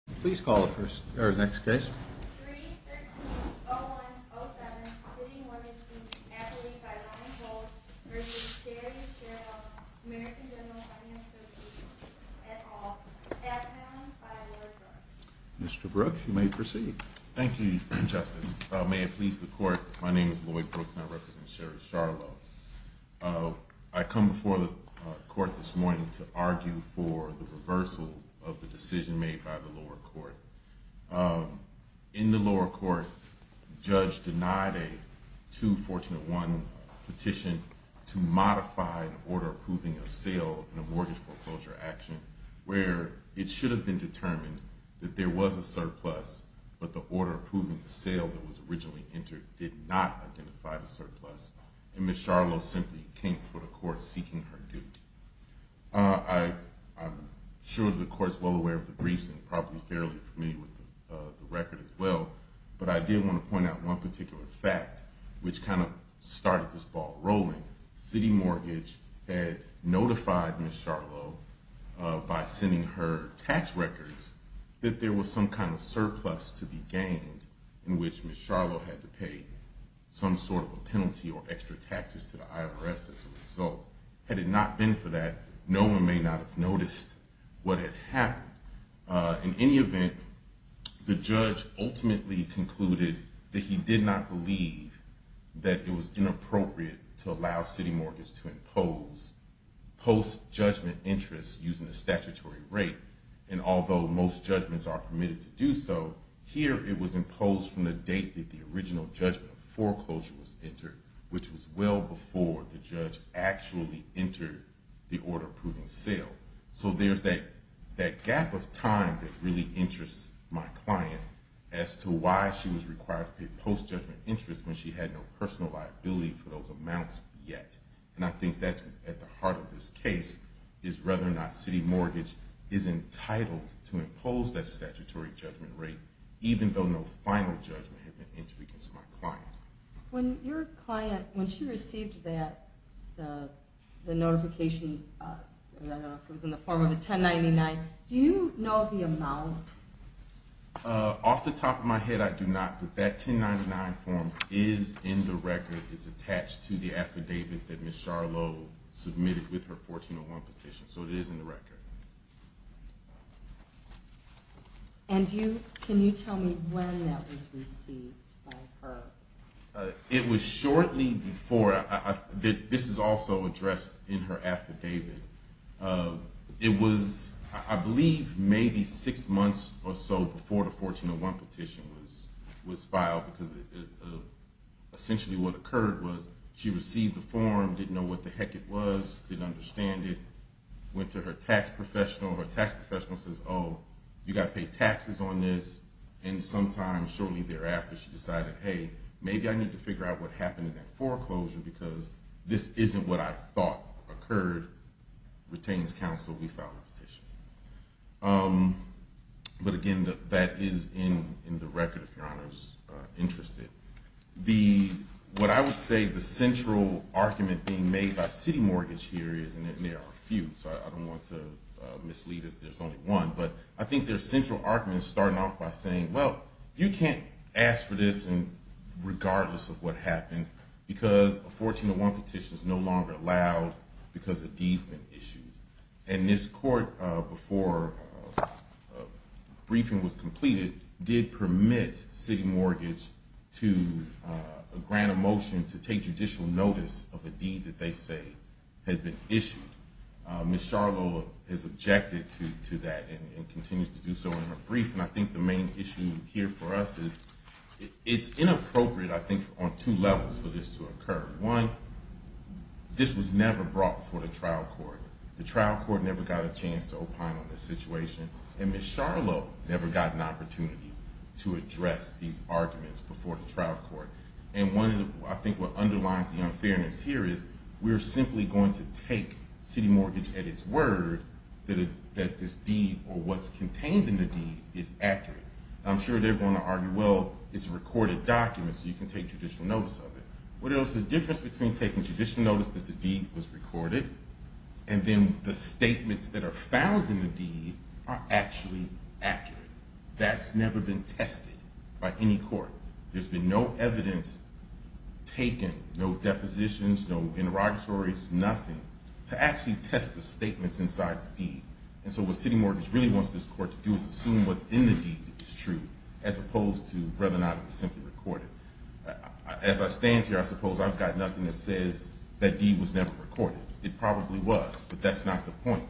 313-0107, CitiMortgage, Inc. v. Sherry Sharlow, American General Finance Association, et al. Mr. Brooks, you may proceed. Thank you, Justice. May it please the Court, my name is Lloyd Brooks and I represent Sherry Sharlow. I come before the Court this morning to argue for the reversal of the decision made by the lower court. In the lower court, Judge denied a 2-141 petition to modify an order approving a sale in a mortgage foreclosure action where it should have been determined that there was a surplus, but the order approving the sale that was originally entered did not identify the surplus. And Ms. Sharlow simply came before the Court seeking her due. I'm sure the Court is well aware of the briefs and probably fairly familiar with the record as well, but I did want to point out one particular fact which kind of started this ball rolling. Citi Mortgage had notified Ms. Sharlow by sending her tax records that there was some kind of surplus to be gained in which Ms. Sharlow had to pay some sort of a penalty or extra taxes to the IRS as a result. Had it not been for that, no one may not have noticed what had happened. In any event, the judge ultimately concluded that he did not believe that it was inappropriate to allow Citi Mortgage to impose post-judgment interest using a statutory rate, and although most judgments are permitted to do so, here it was imposed from the date that the original judgment foreclosure was entered, which was well before the judge actually entered the order approving sale. So there's that gap of time that really interests my client as to why she was required to pay post-judgment interest when she had no personal liability for those amounts yet. And I think that's at the heart of this case, is whether or not Citi Mortgage is entitled to impose that statutory judgment rate even though no final judgment had been entered against my client. When your client, when she received that notification, I don't know if it was in the form of a 1099, do you know the amount? Off the top of my head, I do not, but that 1099 form is in the record. It's attached to the affidavit that Ms. Sharlow submitted with her 1401 petition, so it is in the record. And can you tell me when that was received by her? It was shortly before, this is also addressed in her affidavit, it was I believe maybe 6 months or so before the 1401 petition was filed because essentially what occurred was she received the form, didn't know what the heck it was, didn't understand it, went to her tax professional, her tax professional says, oh, you got to pay taxes on this, and sometime shortly thereafter she decided, hey, maybe I need to figure out what happened to that foreclosure because this isn't what I thought occurred, retains counsel, we file the petition. But again, that is in the record if your honor is interested. What I would say the central argument being made by city mortgage here is, and there are a few, so I don't want to mislead us, there's only one, but I think their central argument is starting off by saying, well, you can't ask for this regardless of what happened because a 1401 petition is no longer allowed because a deed has been issued. And this court, before a briefing was completed, did permit city mortgage to grant a motion to take judicial notice of a deed that they say had been issued. Ms. Charlo has objected to that and continues to do so in her It's inappropriate, I think, on two levels for this to occur. One, this was never brought before the trial court. The trial court never got a chance to opine on this situation, and Ms. Charlo never got an opportunity to address these arguments before the trial court. And I think what underlines the unfairness here is we're simply going to take city mortgage at its word that this deed or what's contained in the deed is accurate. I'm sure they're going to argue, well, it's a recorded document so you can take judicial notice of it. What is the difference between taking judicial notice that the deed was recorded and then the statements that are found in the deed are actually accurate? That's never been tested by any court. There's been no evidence taken, no depositions, no interrogatories, nothing to actually test the statements inside the deed. And so what city mortgage really wants this court to do is assume what's in the deed is true as opposed to whether or not it was simply recorded. As I stand here, I suppose I've got nothing that says that deed was never recorded. It probably was, but that's not the point.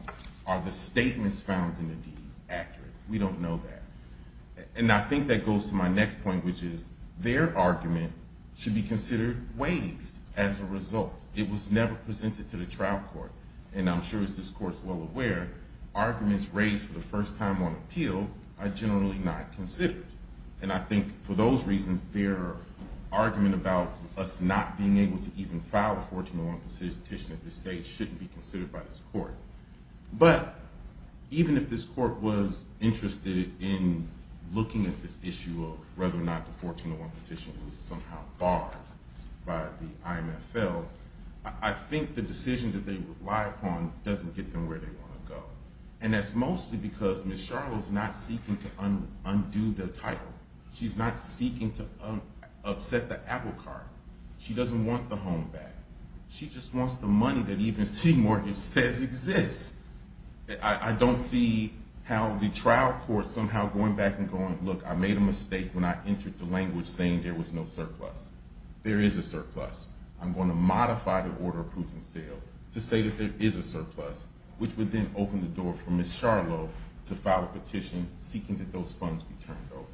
Are the statements found in the deed accurate? We don't know that. And I think that goes to my next point, which is their argument should be considered waived as a result. It was never presented to the trial court. And I'm sure as this court is well aware, arguments raised for the first time on appeal are generally not considered. And I think for those reasons, their argument about us not being able to even file a 1401 petition at this stage shouldn't be considered by this court. But even if this court was interested in looking at this issue of whether or not the 1401 petition was somehow barred by the IMFL, I think the decision that they would rely upon doesn't get them where they want to go. And that's mostly because Ms. Charlotte is not seeking to undo the title. She's not seeking to upset the apple cart. She doesn't want the home back. She just wants the money that even city mortgage says exists. I don't see how the trial court somehow going back and going, look, I made a mistake when I entered the language saying there was no surplus. There is a surplus. I'm going to modify the order of proof and seal to say that there is a surplus, which would then open the door for Ms. Charlotte to file a petition seeking that those funds be turned over.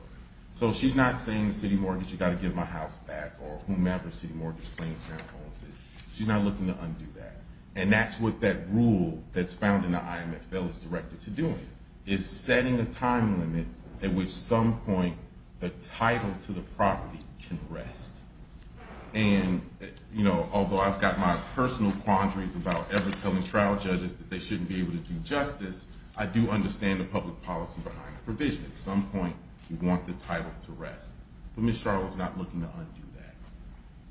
So she's not saying the city mortgage, you've got to give my house back or whomever city mortgage claims now owns it. She's not looking to undo that. And that's what that rule that's found in the IMFL is directed to doing, is setting a time limit at which some point the title to the property can rest. And although I've got my personal quandaries about ever telling trial judges that they shouldn't be able to do justice, I do understand the public policy behind the provision. At some point you want the title to rest. But Ms. Charlotte is not looking to undo that.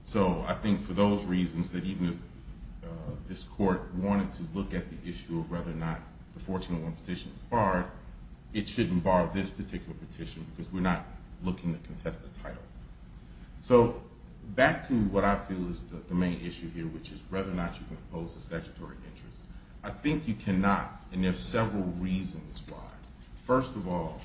So I think for those reasons that even if this court wanted to look at the issue of whether or not the 1401 petition was barred, it shouldn't bar this particular petition because we're not looking to contest the title. So back to what I feel is the main issue here, which is whether or not you can impose a statutory interest. I think you cannot, and there are several reasons why. First of all,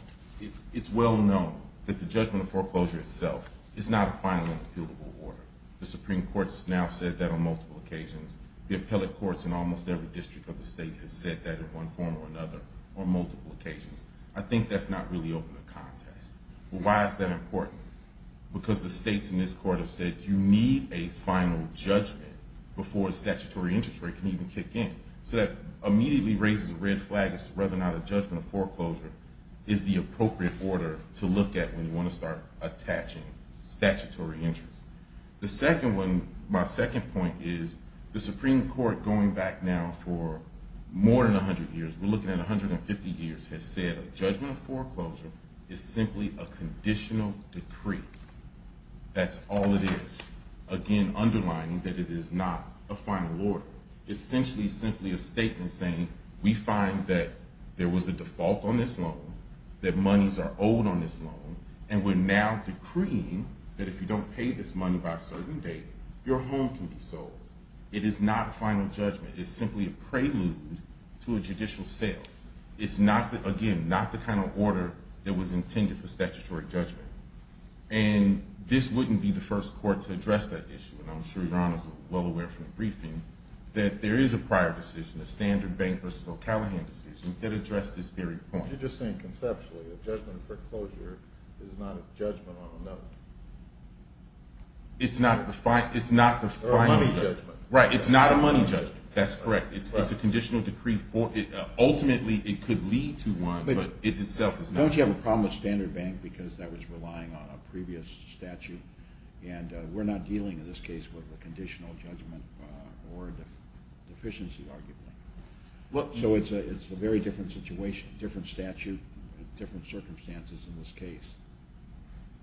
it's well known that the judgment of foreclosure itself is not a final and appealable order. The Supreme Court has now said that on multiple occasions. The appellate courts in almost every district of the state have said that in one form or another on multiple occasions. I think that's not really open to contest. But why is that important? Because the states in this court have said you need a final judgment before a statutory interest rate can even kick in. So that immediately raises a red flag as to whether or not a judgment of foreclosure is the appropriate order to look at when you want to start attaching statutory interest. My second point is the Supreme Court going back now for more than 100 years, we're looking at 150 years, has said a judgment of foreclosure is simply a conditional decree. That's all it is. Again, underlining that it is not a final order. It's essentially simply a statement saying we find that there was a default on this loan, that monies are owed on this loan, and we're now decreeing that if you don't pay this money by a certain date, your home can be sold. It is not a final judgment. It's simply a prelude to a judicial sale. It's not, again, not the kind of order that was intended for statutory judgment. And this wouldn't be the first court to address that issue, and I'm sure Your Honor is well aware from the briefing that there is a prior decision, a Standard Bank v. O'Callaghan decision, that addressed this very point. You're just saying conceptually a judgment of foreclosure is not a judgment on a loan. It's not the final judgment. Or a money judgment. Right, it's not a money judgment. That's correct. It's a conditional decree. Ultimately, it could lead to one, but it itself is not. Don't you have a problem with Standard Bank because that was relying on a previous statute, and we're not dealing in this case with a conditional judgment or a deficiency, arguably. So it's a very different situation, different statute, different circumstances in this case.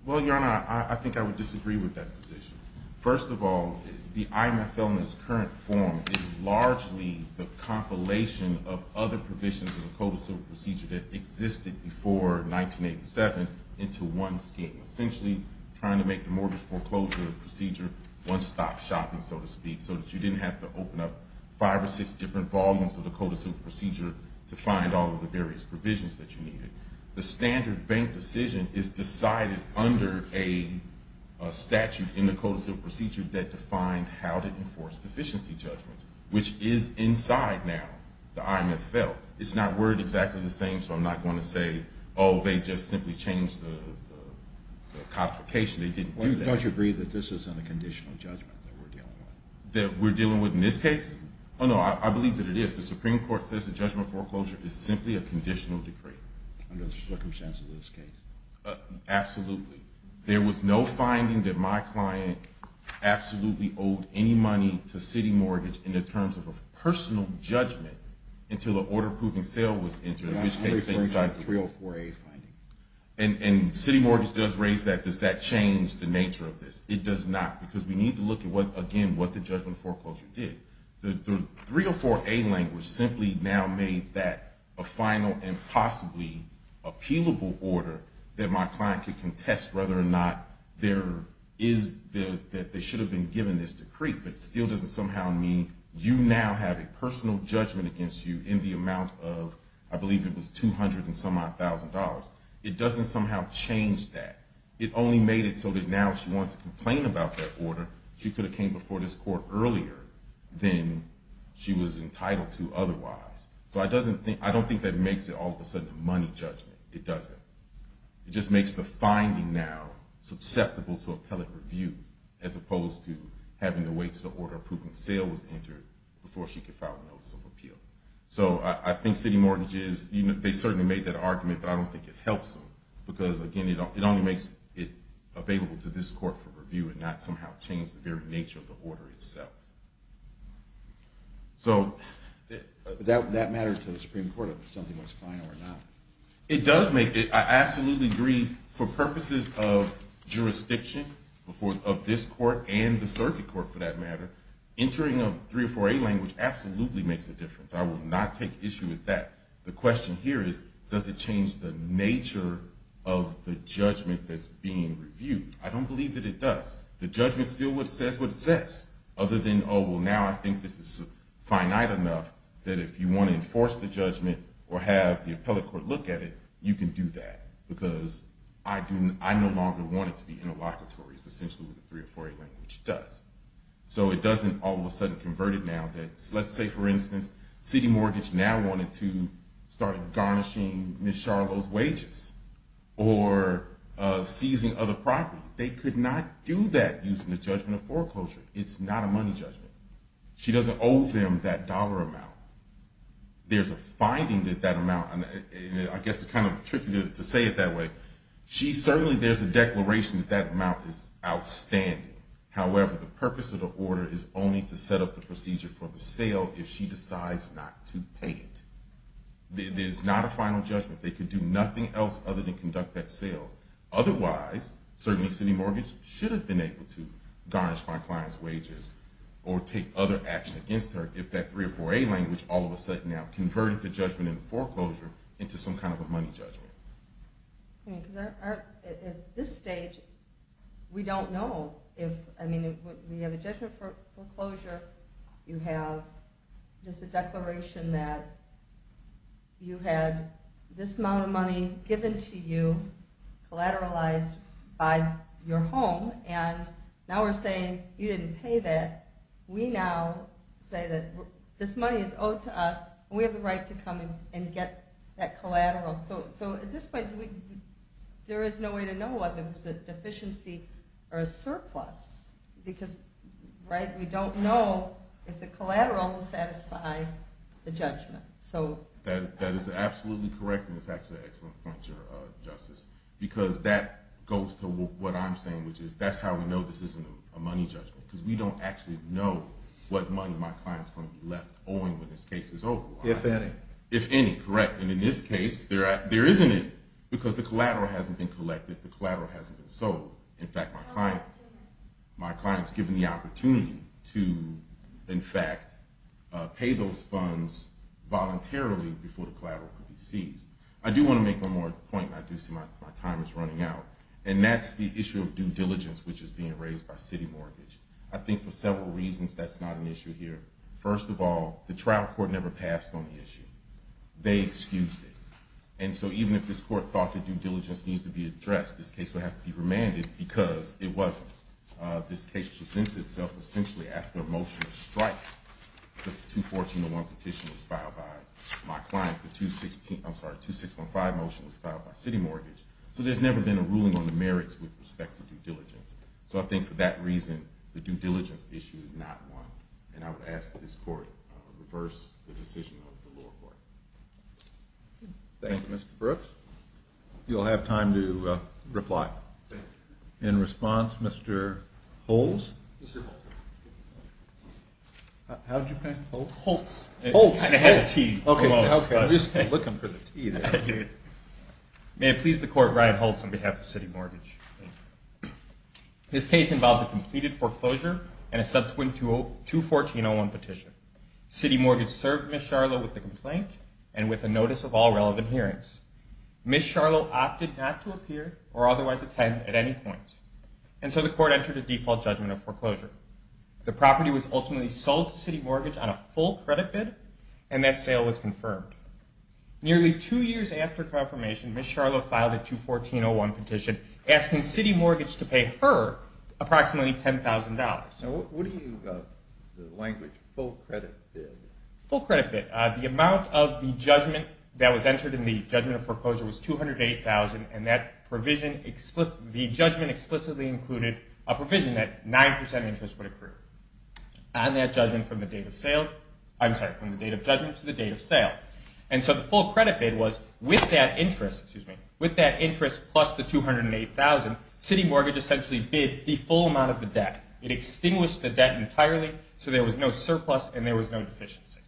Well, Your Honor, I think I would disagree with that position. First of all, the IMF on this current form is largely the compilation of other provisions of the codicil procedure that existed before 1987 into one scheme, essentially trying to make the mortgage foreclosure procedure one-stop shopping, so to speak, so that you didn't have to open up five or six different volumes of the codicil procedure to find all of the various provisions that you needed. The Standard Bank decision is decided under a statute in the codicil procedure that defined how to enforce deficiency judgments, which is inside now the IMF felt. It's not worded exactly the same, so I'm not going to say, oh, they just simply changed the codification. They didn't do that. Why don't you agree that this isn't a conditional judgment that we're dealing with? That we're dealing with in this case? Oh, no, I believe that it is. The Supreme Court says the judgment foreclosure is simply a conditional decree. Under the circumstances of this case. Absolutely. There was no finding that my client absolutely owed any money to City Mortgage in the terms of a personal judgment until an order-approving sale was entered, in which case they decided to do it. I'm referring to the 304A finding. And City Mortgage does raise that. Does that change the nature of this? It does not, because we need to look at, again, what the judgment foreclosure did. The 304A language simply now made that a final and possibly appealable order that my client could contest whether or not there is that they should have been given this decree, but it still doesn't somehow mean you now have a personal judgment against you in the amount of I believe it was $200,000. It doesn't somehow change that. It only made it so that now if she wanted to complain about that order, she could have came before this court earlier than she was entitled to otherwise. So I don't think that makes it all of a sudden a money judgment. It doesn't. It just makes the finding now susceptible to appellate review as opposed to having to wait until the order approving sale was entered before she could file a notice of appeal. So I think City Mortgage, they certainly made that argument, but I don't think it helps them, because, again, it only makes it available to this court for review and not somehow change the very nature of the order itself. That matters to the Supreme Court if something was final or not. It does make it. I absolutely agree. For purposes of jurisdiction of this court and the circuit court, for that matter, entering a 304A language absolutely makes a difference. I will not take issue with that. The question here is does it change the nature of the judgment that's being reviewed. I don't believe that it does. The judgment still says what it says, other than, oh, well, now I think this is finite enough that if you want to enforce the judgment or have the appellate court look at it, you can do that, because I no longer want it to be interlocutory, essentially what the 304A language does. So it doesn't all of a sudden convert it now. Let's say, for instance, City Mortgage now wanted to start garnishing Ms. Charlo's wages or seizing other property. They could not do that using the judgment of foreclosure. It's not a money judgment. She doesn't owe them that dollar amount. There's a finding that that amount, and I guess it's kind of tricky to say it that way. Certainly there's a declaration that that amount is outstanding. However, the purpose of the order is only to set up the procedure for the sale if she decides not to pay it. There's not a final judgment. They could do nothing else other than conduct that sale. Otherwise, certainly City Mortgage should have been able to garnish my client's wages or take other action against her if that 304A language all of a sudden now converted the judgment in foreclosure into some kind of a money judgment. At this stage, we don't know. We have a judgment of foreclosure. You have just a declaration that you had this amount of money given to you, collateralized by your home, and now we're saying you didn't pay that. We now say that this money is owed to us, and we have the right to come and get that collateral. At this point, there is no way to know whether it was a deficiency or a surplus, because we don't know if the collateral will satisfy the judgment. That is absolutely correct, and it's actually an excellent point, Justice, because that goes to what I'm saying, which is that's how we know this isn't a money judgment, because we don't actually know what money my client's going to be left owing when this case is over. If any. If any, correct, and in this case, there isn't any, because the collateral hasn't been collected, the collateral hasn't been sold. In fact, my client's given the opportunity to, in fact, pay those funds voluntarily before the collateral could be seized. I do want to make one more point, and I do see my time is running out, and that's the issue of due diligence, which is being raised by city mortgage. I think for several reasons that's not an issue here. First of all, the trial court never passed on the issue. They excused it, and so even if this court thought that due diligence needs to be addressed, this case would have to be remanded because it wasn't. This case presents itself essentially after a motion of strife. The 214.1 petition was filed by my client. The 2615 motion was filed by city mortgage. So there's never been a ruling on the merits with respect to due diligence. So I think for that reason, the due diligence issue is not one, and I would ask that this court reverse the decision of the lower court. Thank you, Mr. Brooks. You'll have time to reply. In response, Mr. Holtz. How did you pronounce Holtz? Holtz. Holtz. I had a T. Okay. I was just looking for the T there. May it please the court, Ryan Holtz on behalf of city mortgage. This case involves a completed foreclosure and a subsequent 214.1 petition. City mortgage served Ms. Charlo with the complaint and with a notice of all relevant hearings. Ms. Charlo opted not to appear or otherwise attend at any point, and so the court entered a default judgment of foreclosure. The property was ultimately sold to city mortgage on a full credit bid, and that sale was confirmed. Nearly two years after confirmation, Ms. Charlo filed a 214.1 petition asking city mortgage to pay her approximately $10,000. What do you mean by the language full credit bid? Full credit bid. The amount of the judgment that was entered in the judgment of foreclosure was $208,000, and that provision, the judgment explicitly included a provision that 9% interest would occur on that judgment from the date of sale. I'm sorry, from the date of judgment to the date of sale. And so the full credit bid was with that interest plus the $208,000, city mortgage essentially bid the full amount of the debt. It extinguished the debt entirely, so there was no surplus and there was no deficiency.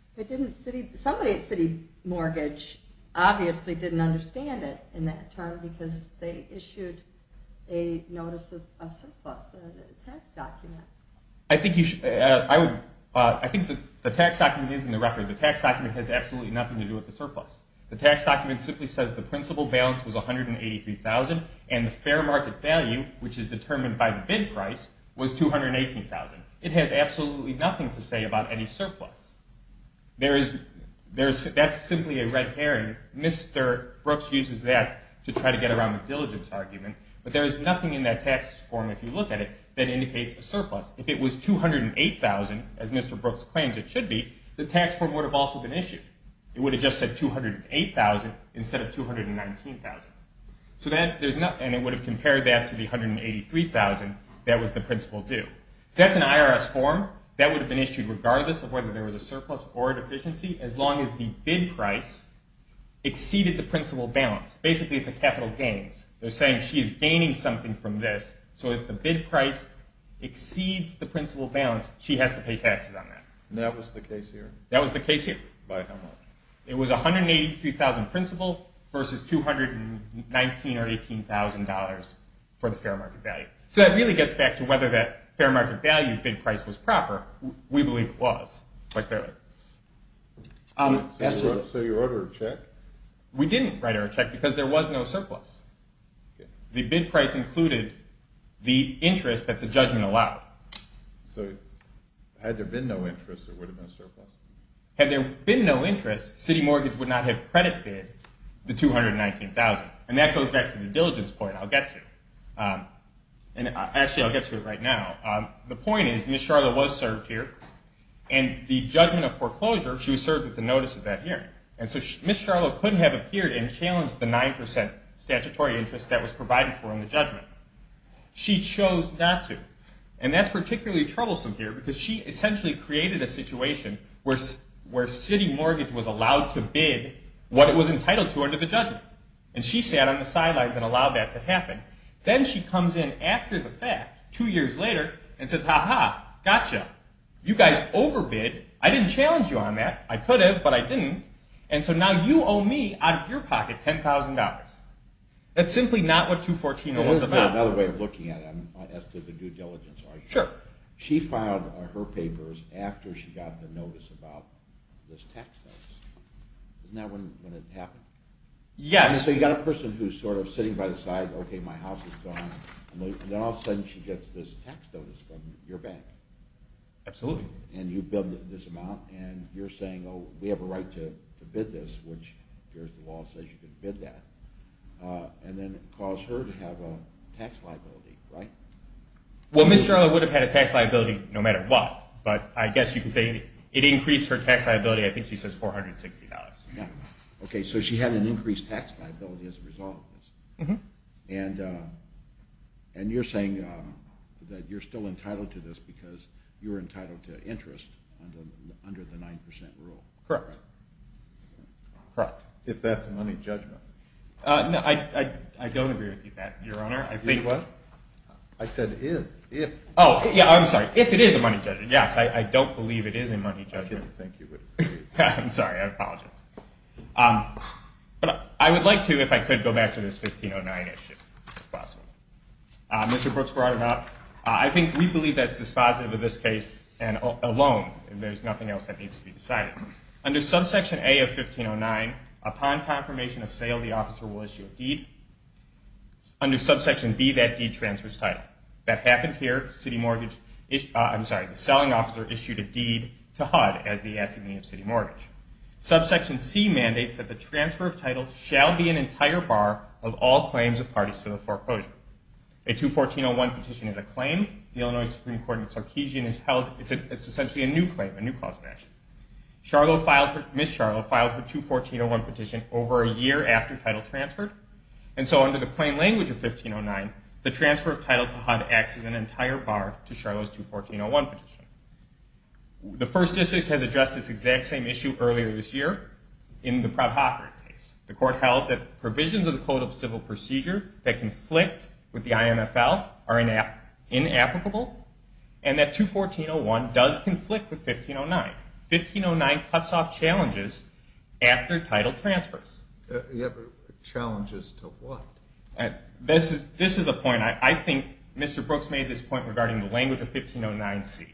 Somebody at city mortgage obviously didn't understand it in that term because they issued a notice of surplus, a tax document. I think the tax document is in the record. The tax document has absolutely nothing to do with the surplus. And the fair market value, which is determined by the bid price, was $218,000. It has absolutely nothing to say about any surplus. That's simply a red herring. Mr. Brooks uses that to try to get around the diligence argument. But there is nothing in that tax form, if you look at it, that indicates a surplus. If it was $208,000, as Mr. Brooks claims it should be, the tax form would have also been issued. It would have just said $208,000 instead of $219,000. And it would have compared that to the $183,000 that was the principal due. That's an IRS form. That would have been issued regardless of whether there was a surplus or a deficiency as long as the bid price exceeded the principal balance. Basically, it's a capital gains. They're saying she's gaining something from this, so if the bid price exceeds the principal balance, she has to pay taxes on that. And that was the case here? That was the case here. By how much? It was $183,000 principal versus $219,000 or $18,000 for the fair market value. So that really gets back to whether that fair market value bid price was proper. We believe it was, quite clearly. So you wrote her a check? We didn't write her a check because there was no surplus. The bid price included the interest that the judgment allowed. Had there been no interest, City Mortgage would not have credit bid the $219,000. And that goes back to the diligence point I'll get to. Actually, I'll get to it right now. The point is Ms. Charlo was served here, and the judgment of foreclosure, she was served with the notice of that hearing. And so Ms. Charlo couldn't have appeared and challenged the 9% statutory interest that was provided for in the judgment. She chose not to. And that's particularly troublesome here because she essentially created a situation where City Mortgage was allowed to bid what it was entitled to under the judgment. And she sat on the sidelines and allowed that to happen. Then she comes in after the fact, two years later, and says, Ha-ha, gotcha. You guys overbid. I didn't challenge you on that. I could have, but I didn't. And so now you owe me, out of your pocket, $10,000. That's simply not what 214-0 was about. Here's another way of looking at it as to the due diligence. Sure. She filed her papers after she got the notice about this tax notice. Isn't that when it happened? Yes. So you've got a person who's sort of sitting by the side, okay, my house is gone, and then all of a sudden she gets this tax notice from your bank. Absolutely. And you billed this amount, and you're saying, oh, we have a right to bid this, which the law says you can bid that, and then it caused her to have a tax liability, right? Well, Ms. Jarlow would have had a tax liability no matter what, but I guess you could say it increased her tax liability. I think she says $460. Okay. So she had an increased tax liability as a result of this. And you're saying that you're still entitled to this because you're entitled to interest under the 9% rule. Correct. Correct. No, I don't agree with you on that, Your Honor. What? I said if. Oh, yeah, I'm sorry. If it is a money judgment. Yes, I don't believe it is a money judgment. I didn't think you would. I'm sorry. I apologize. But I would like to, if I could, go back to this 1509 issue, if possible. Mr. Brooks brought it up. I think we believe that's dispositive of this case alone, and there's nothing else that needs to be decided. Under subsection A of 1509, upon confirmation of sale, the officer will issue a deed. Under subsection B, that deed transfers title. That happened here. The selling officer issued a deed to HUD as the assignee of city mortgage. Subsection C mandates that the transfer of title shall be an entire bar of all claims of parties to the foreclosure. A 214.01 petition is a claim. The Illinois Supreme Court in Sarkeesian is held. It's essentially a new claim, a new cause of action. Ms. Charlo filed her 214.01 petition over a year after title transfer, and so under the plain language of 1509, the transfer of title to HUD acts as an entire bar to Charlo's 214.01 petition. The First District has addressed this exact same issue earlier this year in the Pratt-Hoffer case. The court held that provisions of the Code of Civil Procedure that conflict with the IMFL are inapplicable, and that 214.01 does conflict with 1509. 1509 cuts off challenges after title transfers. Challenges to what? This is a point. I think Mr. Brooks made this point regarding the language of 1509C.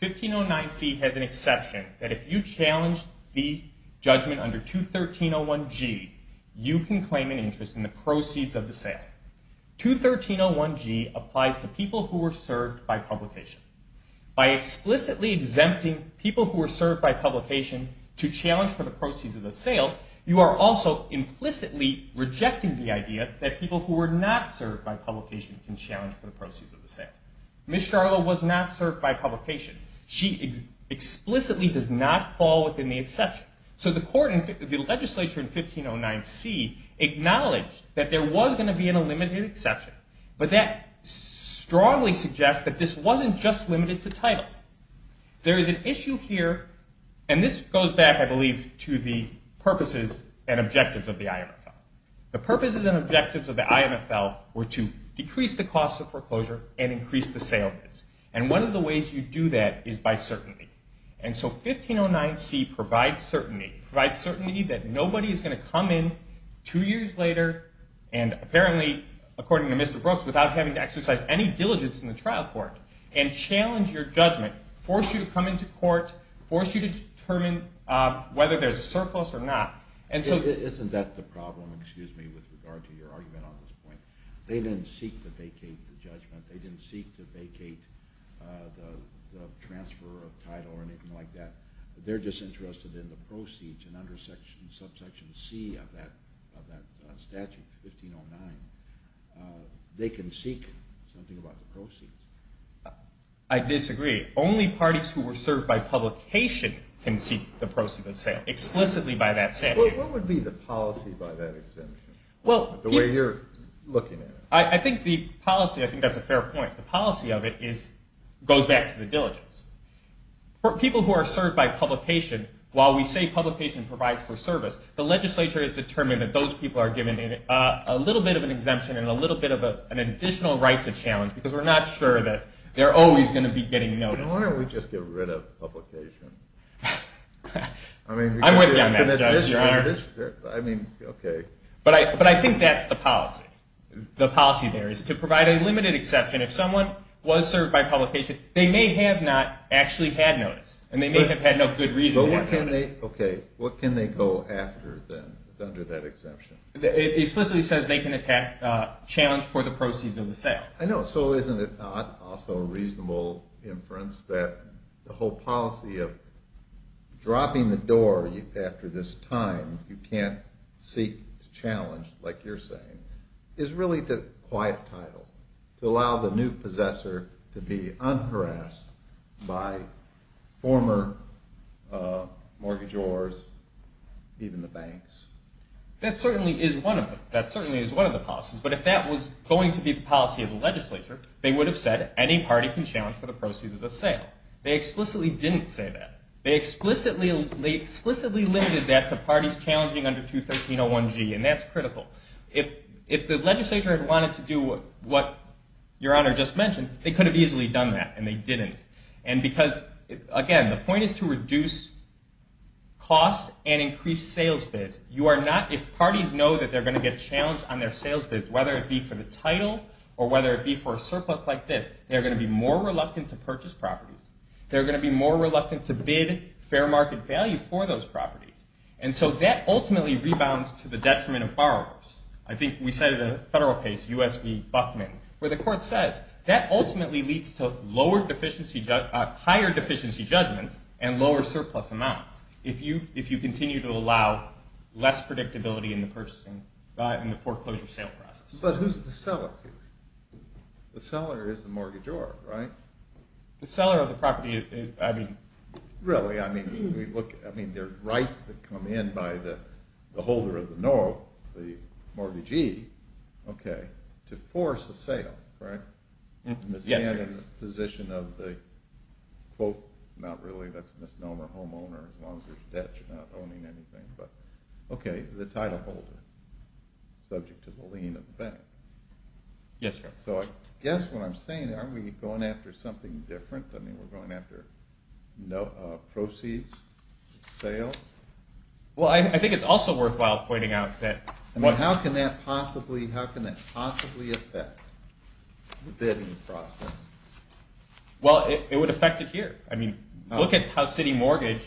1509C has an exception that if you challenge the judgment under 213.01G, you can claim an interest in the proceeds of the sale. 213.01G applies to people who were served by publication. By explicitly exempting people who were served by publication to challenge for the proceeds of the sale, you are also implicitly rejecting the idea that people who were not served by publication can challenge for the proceeds of the sale. Ms. Charlo was not served by publication. She explicitly does not fall within the exception. So the legislature in 1509C acknowledged that there was going to be a limited exception, but that strongly suggests that this wasn't just limited to title. There is an issue here, and this goes back, I believe, to the purposes and objectives of the IMFL. The purposes and objectives of the IMFL were to decrease the cost of foreclosure and increase the sale. And one of the ways you do that is by certainty. And so 1509C provides certainty, provides certainty that nobody is going to come in two years later, and apparently, according to Mr. Brooks, without having to exercise any diligence in the trial court, and challenge your judgment, force you to come into court, force you to determine whether there's a surplus or not. Isn't that the problem, excuse me, with regard to your argument on this point? They didn't seek to vacate the judgment. They didn't seek to vacate the transfer of title or anything like that. They're just interested in the proceeds, and under subsection C of that statute, 1509, they can seek something about the proceeds. I disagree. Only parties who were served by publication can seek the proceeds of the sale, explicitly by that statute. What would be the policy by that extension? The way you're looking at it. I think the policy, I think that's a fair point. The policy of it goes back to the diligence. People who are served by publication, while we say publication provides for service, the legislature has determined that those people are given a little bit of an exemption and a little bit of an additional right to challenge because we're not sure that they're always going to be getting notice. Why don't we just get rid of publication? I'm working on that, Judge. I mean, okay. But I think that's the policy. The policy there is to provide a limited exception. If someone was served by publication, they may have not actually had notice, and they may have had no good reason to have notice. Okay. What can they go after, then, under that exemption? It explicitly says they can challenge for the proceeds of the sale. I know. So isn't it not also a reasonable inference that the whole policy of dropping the door after this time, you can't seek to challenge, like you're saying, is really to quiet title, to allow the new possessor to be unharassed by former mortgagors, even the banks? That certainly is one of them. That certainly is one of the policies. But if that was going to be the policy of the legislature, they would have said any party can challenge for the proceeds of the sale. They explicitly didn't say that. They explicitly limited that to parties challenging under 213.01g, and that's critical. If the legislature had wanted to do what Your Honor just mentioned, they could have easily done that, and they didn't. Because, again, the point is to reduce costs and increase sales bids. If parties know that they're going to get challenged on their sales bids, whether it be for the title or whether it be for a surplus like this, they're going to be more reluctant to purchase properties. They're going to be more reluctant to bid fair market value for those properties. And so that ultimately rebounds to the detriment of borrowers. I think we said it in a federal case, U.S. v. Buckman, where the court says that ultimately leads to higher deficiency judgments and lower surplus amounts if you continue to allow less predictability in the foreclosure sale process. But who's the seller here? The seller is the mortgagor, right? The seller of the property, I mean. Really? I mean, there are rights that come in by the holder of the mortgagee to force a sale, right? Yes, sir. In the position of the, quote, not really, that's misnomer homeowner, as long as there's debt, you're not owning anything. But, okay, the titleholder, subject to the lien of the bank. Yes, sir. So I guess what I'm saying, aren't we going after something different? I mean, we're going after proceeds, sales? Well, I think it's also worthwhile pointing out that what- Well, it would affect it here. I mean, look at how City Mortgage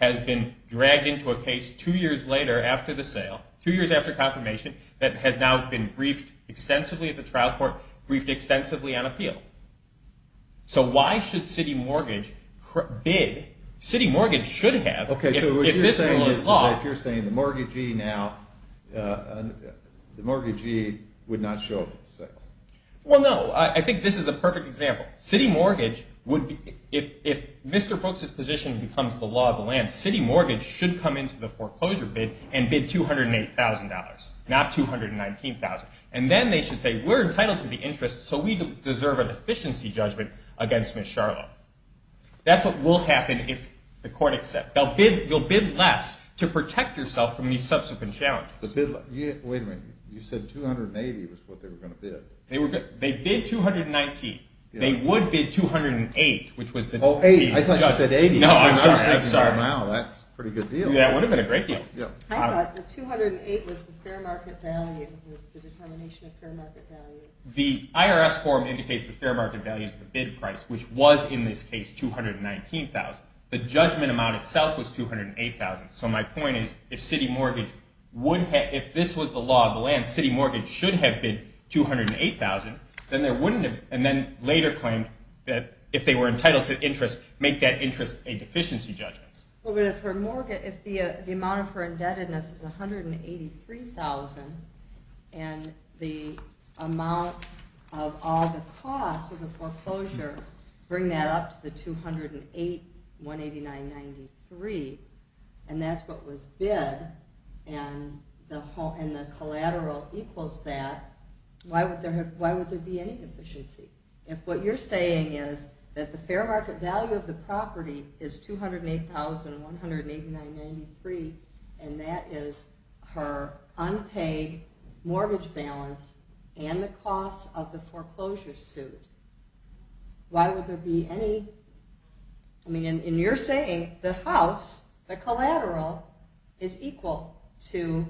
has been dragged into a case two years later after the sale, two years after confirmation, that has now been briefed extensively at the trial court, briefed extensively on appeal. So why should City Mortgage bid? City Mortgage should have. Okay, so what you're saying is that you're saying the mortgagee now, the mortgagee would not show up at the sale. Well, no. I think this is a perfect example. City Mortgage would be, if Mr. Brooks's position becomes the law of the land, City Mortgage should come into the foreclosure bid and bid $208,000, not $219,000. And then they should say, we're entitled to the interest, so we deserve an efficiency judgment against Ms. Sharlow. That's what will happen if the court accepts. You'll bid less to protect yourself from these subsequent challenges. Wait a minute. You said $280,000 was what they were going to bid. They bid $219,000. They would bid $208,000. Oh, $80,000. I thought you said $80,000. No, I'm just saying, sorry. Wow, that's a pretty good deal. That would have been a great deal. I thought the $208,000 was the fair market value, was the determination of fair market value. The IRS form indicates the fair market value is the bid price, which was in this case $219,000. The judgment amount itself was $208,000. So my point is, if this was the law of the land, city mortgage should have bid $208,000, and then later claimed that if they were entitled to interest, make that interest a deficiency judgment. But if the amount of her indebtedness is $183,000 and the amount of all the costs of the foreclosure, bring that up to the $208,189.93, and that's what was bid, and the collateral equals that, why would there be any deficiency? If what you're saying is that the fair market value of the property is $208,189.93, and that is her unpaid mortgage balance and the costs of the foreclosure suit, why would there be any... I mean, in your saying, the house, the collateral, is equal to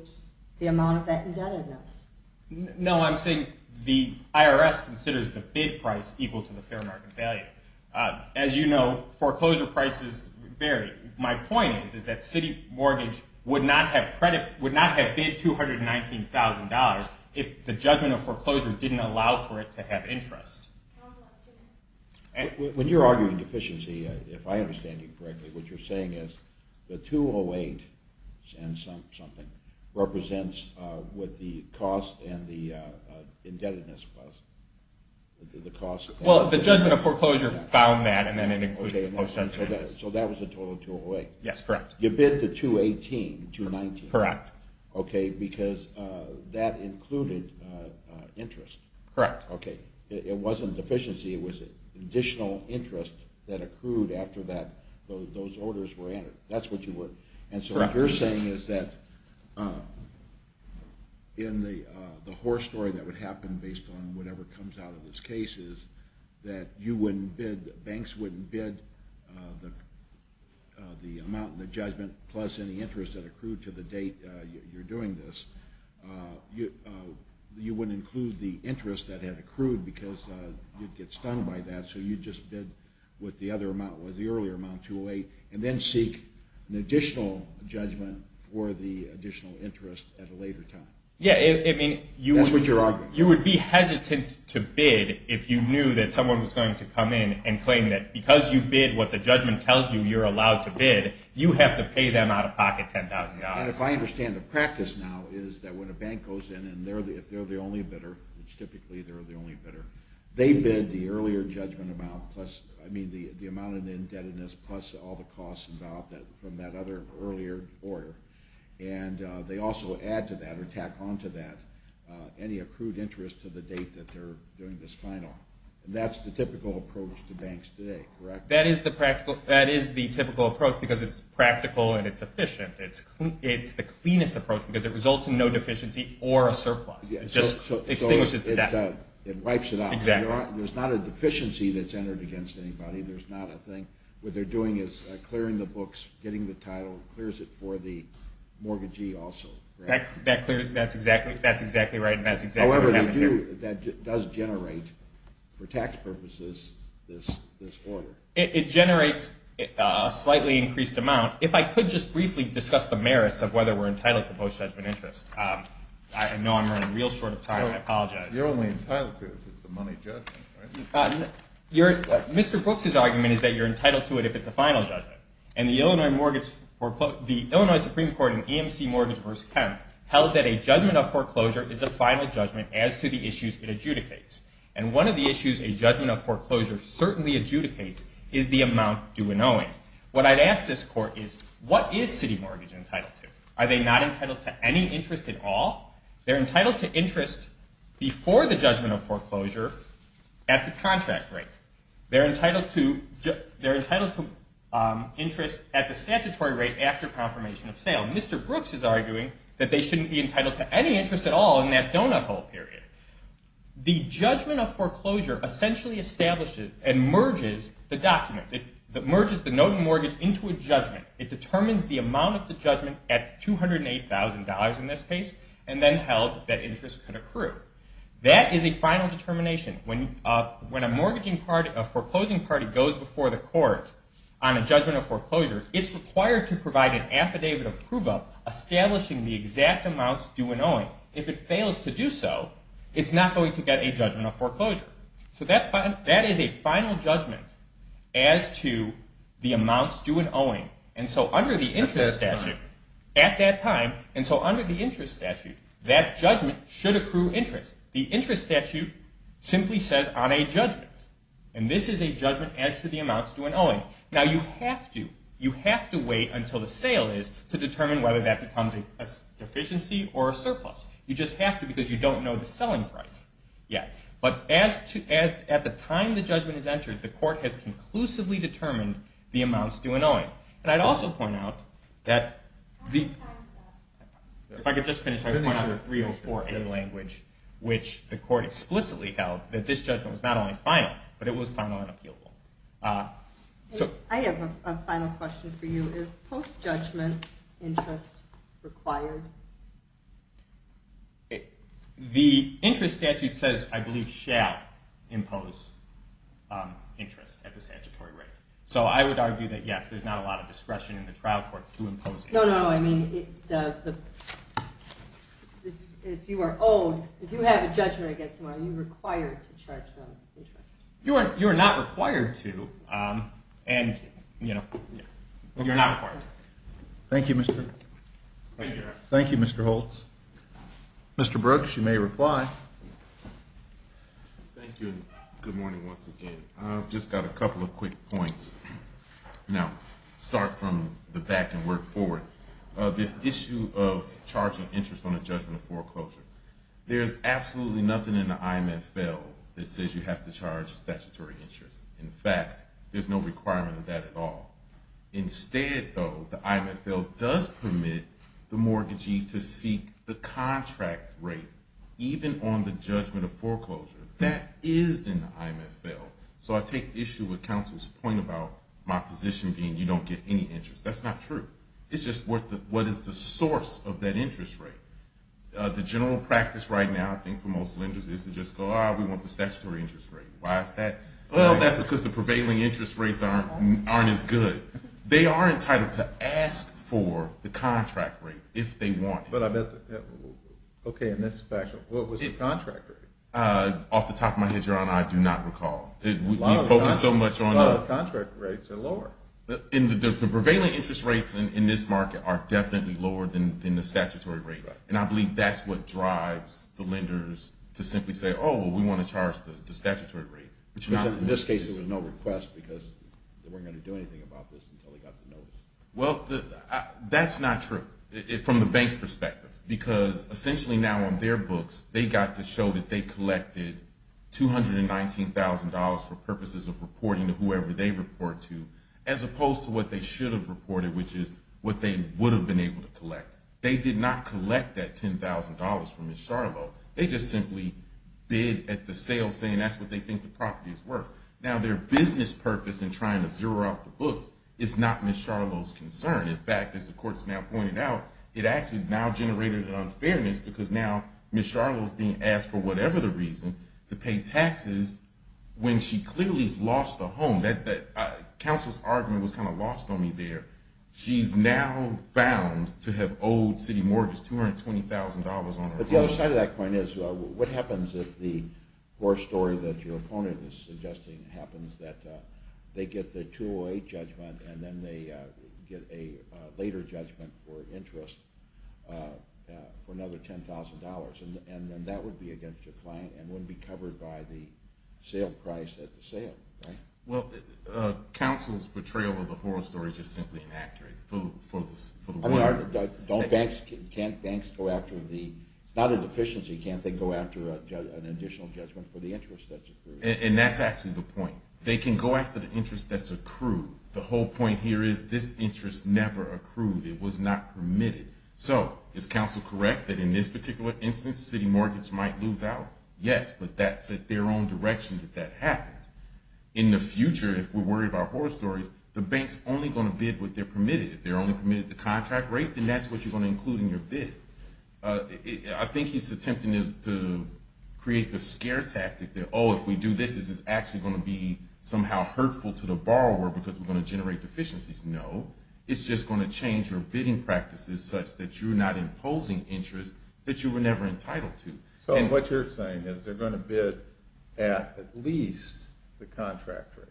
the amount of that indebtedness. No, I'm saying the IRS considers the bid price equal to the fair market value. As you know, foreclosure prices vary. My point is that city mortgage would not have bid $219,000 if the judgment of foreclosure didn't allow for it to have interest. When you're arguing deficiency, if I understand you correctly, what you're saying is the $208,000 and something represents what the cost and the indebtedness was. Well, the judgment of foreclosure found that, and then it included the post-judge interest. Okay, so that was a total of $208,000. Yes, correct. You bid the $218,000, $219,000. Correct. Okay, because that included interest. Correct. Okay, it wasn't deficiency, it was additional interest that accrued after those orders were entered. That's what you were... Correct. And so what you're saying is that in the horror story that would happen based on whatever comes out of this case is that banks wouldn't bid the amount in the judgment plus any interest that accrued to the date you're doing this. You wouldn't include the interest that had accrued because you'd get stung by that, so you'd just bid with the earlier amount, $208,000, and then seek an additional judgment for the additional interest at a later time. Yes, I mean, you would be hesitant to bid if you knew that someone was going to come in and claim that because you bid what the judgment tells you you're allowed to bid, you have to pay them out-of-pocket $10,000. And if I understand the practice now is that when a bank goes in and if they're the only bidder, which typically they're the only bidder, they bid the earlier judgment amount, I mean the amount of indebtedness plus all the costs involved from that other earlier order, and they also add to that or tack on to that any accrued interest to the date that they're doing this final. That's the typical approach to banks today, correct? That is the typical approach because it's practical and it's efficient. It's the cleanest approach because it results in no deficiency or a surplus. It just extinguishes the debt. It wipes it out. Exactly. There's not a deficiency that's entered against anybody. There's not a thing. What they're doing is clearing the books, getting the title, clears it for the mortgagee also. That's exactly right, and that's exactly what happened here. However, that does generate, for tax purposes, this order. It generates a slightly increased amount. If I could just briefly discuss the merits of whether we're entitled to post-judgment interest. I know I'm running real short of time. I apologize. You're only entitled to it if it's a money judgment, right? Mr. Brooks's argument is that you're entitled to it if it's a final judgment, and the Illinois Supreme Court in EMC Mortgage v. Kemp held that a judgment of foreclosure is a final judgment as to the issues it adjudicates, and one of the issues a judgment of foreclosure certainly adjudicates is the amount due in owing. What I'd ask this court is, what is city mortgage entitled to? Are they not entitled to any interest at all? They're entitled to interest before the judgment of foreclosure at the contract rate. They're entitled to interest at the statutory rate after confirmation of sale. Mr. Brooks is arguing that they shouldn't be entitled to any interest at all in that donut hole period. The judgment of foreclosure essentially establishes and merges the documents. It merges the note in mortgage into a judgment. It determines the amount of the judgment at $208,000 in this case, and then held that interest could accrue. That is a final determination. When a foreclosing party goes before the court on a judgment of foreclosure, it's required to provide an affidavit of approval establishing the exact amounts due in owing. If it fails to do so, it's not going to get a judgment of foreclosure. That is a final judgment as to the amounts due in owing. Under the interest statute at that time, that judgment should accrue interest. The interest statute simply says on a judgment. This is a judgment as to the amounts due in owing. Now, you have to wait until the sale is to determine whether that becomes a deficiency or a surplus. You just have to because you don't know the selling price yet. But at the time the judgment is entered, the court has conclusively determined the amounts due in owing. And I'd also point out that if I could just finish, I'd point out 304A language, which the court explicitly held that this judgment was not only final, but it was final and appealable. I have a final question for you. Is post-judgment interest required? The interest statute says, I believe, shall impose interest at the statutory rate. So I would argue that, yes, there's not a lot of discretion in the trial court to impose interest. No, no, I mean if you are owed, if you have a judgment against someone, are you required to charge them interest? You are not required to, and, you know, you're not required to. Thank you, Mr. Holtz. Mr. Brooks, you may reply. Thank you, and good morning once again. I've just got a couple of quick points. Now, start from the back and work forward. This issue of charging interest on a judgment of foreclosure, there's absolutely nothing in the IMFL that says you have to charge statutory interest. In fact, there's no requirement of that at all. Instead, though, the IMFL does permit the mortgagee to seek the contract rate, even on the judgment of foreclosure. That is in the IMFL. So I take issue with counsel's point about my position being you don't get any interest. That's not true. It's just what is the source of that interest rate. The general practice right now, I think, for most lenders is to just go, ah, we want the statutory interest rate. Why is that? Well, that's because the prevailing interest rates aren't as good. They are entitled to ask for the contract rate if they want it. Okay, in this fashion. What was the contract rate? Off the top of my head, Your Honor, I do not recall. We focus so much on that. Contract rates are lower. The prevailing interest rates in this market are definitely lower than the statutory rate, and I believe that's what drives the lenders to simply say, oh, we want to charge the statutory rate. In this case, there was no request because they weren't going to do anything about this until they got the notice. Well, that's not true from the bank's perspective, because essentially now on their books they got to show that they collected $219,000 for purposes of reporting to whoever they report to, as opposed to what they should have reported, which is what they would have been able to collect. They did not collect that $10,000 from Ms. Charlo. They just simply bid at the sales saying that's what they think the property is worth. Now, their business purpose in trying to zero out the books is not Ms. Charlo's concern. In fact, as the Court has now pointed out, it actually now generated an unfairness because now Ms. Charlo is being asked, for whatever the reason, to pay taxes when she clearly has lost a home. Counsel's argument was kind of lost on me there. She's now found to have owed City Mortgage $220,000 on her home. But the other side of that point is what happens if the horror story that your opponent is suggesting happens, that they get the 208 judgment and then they get a later judgment for interest for another $10,000? And then that would be against your client and would be covered by the sale price at the sale, right? Well, Counsel's portrayal of the horror story is just simply inaccurate. Don't banks – can't banks go after the – it's not a deficiency. Can't they go after an additional judgment for the interest that's accrued? And that's actually the point. They can go after the interest that's accrued. The whole point here is this interest never accrued. It was not permitted. So is Counsel correct that in this particular instance City Mortgage might lose out? Yes, but that's at their own direction that that happened. In the future, if we're worried about horror stories, the bank's only going to bid what they're permitted. If they're only permitted the contract rate, then that's what you're going to include in your bid. I think he's attempting to create the scare tactic that, oh, if we do this, this is actually going to be somehow hurtful to the borrower because we're going to generate deficiencies. No. It's just going to change your bidding practices such that you're not imposing interest that you were never entitled to. So what you're saying is they're going to bid at least the contract rate.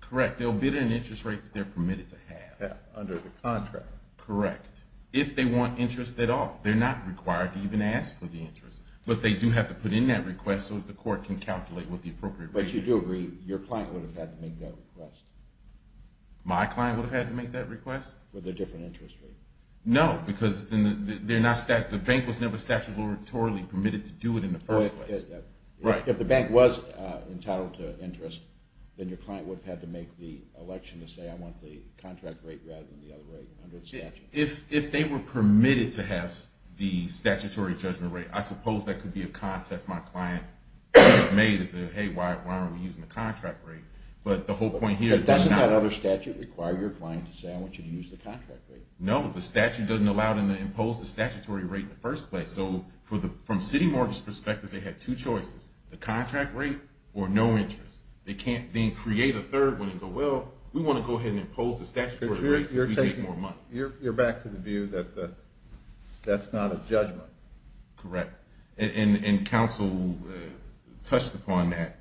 Correct. They'll bid at an interest rate that they're permitted to have. Under the contract. Correct. If they want interest at all. They're not required to even ask for the interest, but they do have to put in that request so that the court can calculate what the appropriate rate is. But you do agree your client would have had to make that request? My client would have had to make that request? With a different interest rate. No, because the bank was never statutorily permitted to do it in the first place. If the bank was entitled to interest, then your client would have had to make the election to say, I want the contract rate rather than the other rate under the statute. If they were permitted to have the statutory judgment rate, I suppose that could be a contest my client has made as to, hey, why aren't we using the contract rate? But doesn't that other statute require your client to say, I want you to use the contract rate? No, the statute doesn't allow them to impose the statutory rate in the first place. So from CityMarket's perspective, they had two choices, the contract rate or no interest. They can't then create a third one and go, well, we want to go ahead and impose the statutory rate because we make more money. You're back to the view that that's not a judgment. Correct. And counsel touched upon that.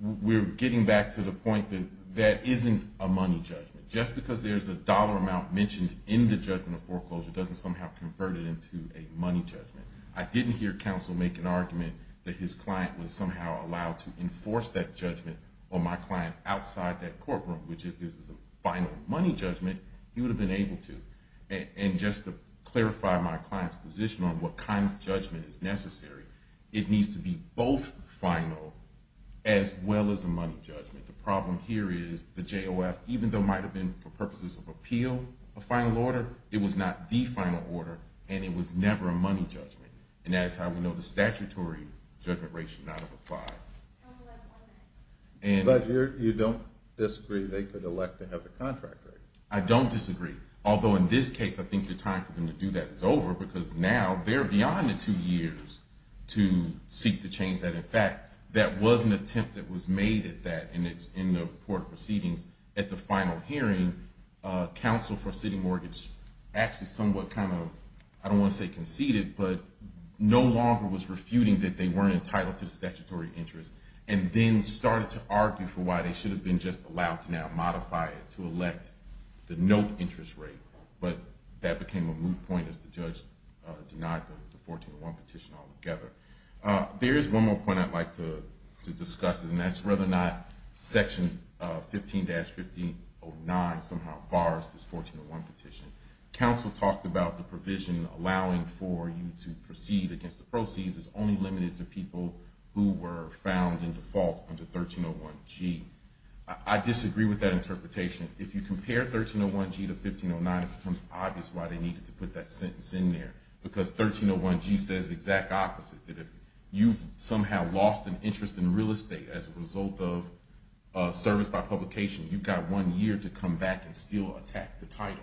We're getting back to the point that that isn't a money judgment. Just because there's a dollar amount mentioned in the judgment of foreclosure doesn't somehow convert it into a money judgment. I didn't hear counsel make an argument that his client was somehow allowed to enforce that judgment on my client outside that courtroom, which if it was a final money judgment, he would have been able to. And just to clarify my client's position on what kind of judgment is necessary, it needs to be both final as well as a money judgment. The problem here is the JOF, even though it might have been for purposes of appeal, a final order, it was not the final order and it was never a money judgment. And that is how we know the statutory judgment rate should not apply. But you don't disagree they could elect to have the contract rate? I don't disagree. Although in this case, I think the time for them to do that is over because now they're beyond the two years to seek to change that. In fact, that was an attempt that was made at that, and it's in the report of proceedings at the final hearing. Counsel for city mortgage actually somewhat kind of, I don't want to say conceded, but no longer was refuting that they weren't entitled to the statutory interest, and then started to argue for why they should have been just allowed to now modify it to elect the note interest rate. But that became a moot point as the judge denied the 1401 petition altogether. There is one more point I'd like to discuss, and that's whether or not Section 15-1509 somehow bars this 1401 petition. Counsel talked about the provision allowing for you to proceed against the proceeds. It's only limited to people who were found in default under 1301G. I disagree with that interpretation. If you compare 1301G to 1509, it becomes obvious why they needed to put that sentence in there, because 1301G says the exact opposite, that if you somehow lost an interest in real estate as a result of service by publication, you've got one year to come back and still attack the title.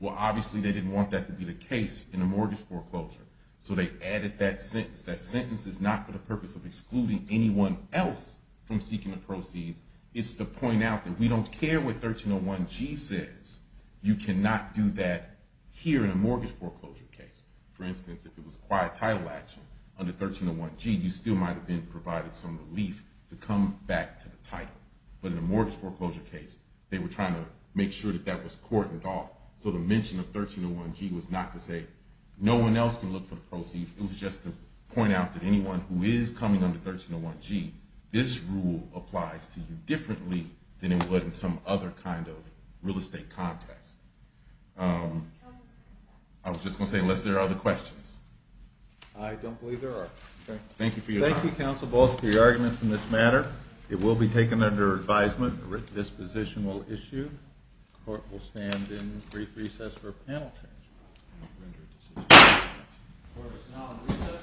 Well, obviously they didn't want that to be the case in a mortgage foreclosure, so they added that sentence. That sentence is not for the purpose of excluding anyone else from seeking the proceeds. It's to point out that we don't care what 1301G says. You cannot do that here in a mortgage foreclosure case. For instance, if it was a quiet title action under 1301G, you still might have been provided some relief to come back to the title. But in a mortgage foreclosure case, they were trying to make sure that that was cordoned off, so the mention of 1301G was not to say no one else can look for the proceeds. It was just to point out that anyone who is coming under 1301G, this rule applies to you differently than it would in some other kind of real estate contest. I was just going to say, unless there are other questions. I don't believe there are. Thank you for your time. Thank you, counsel, both for your arguments in this matter. It will be taken under advisement. This position will issue. The court will stand in brief recess for panel discussion. The court is now in recess.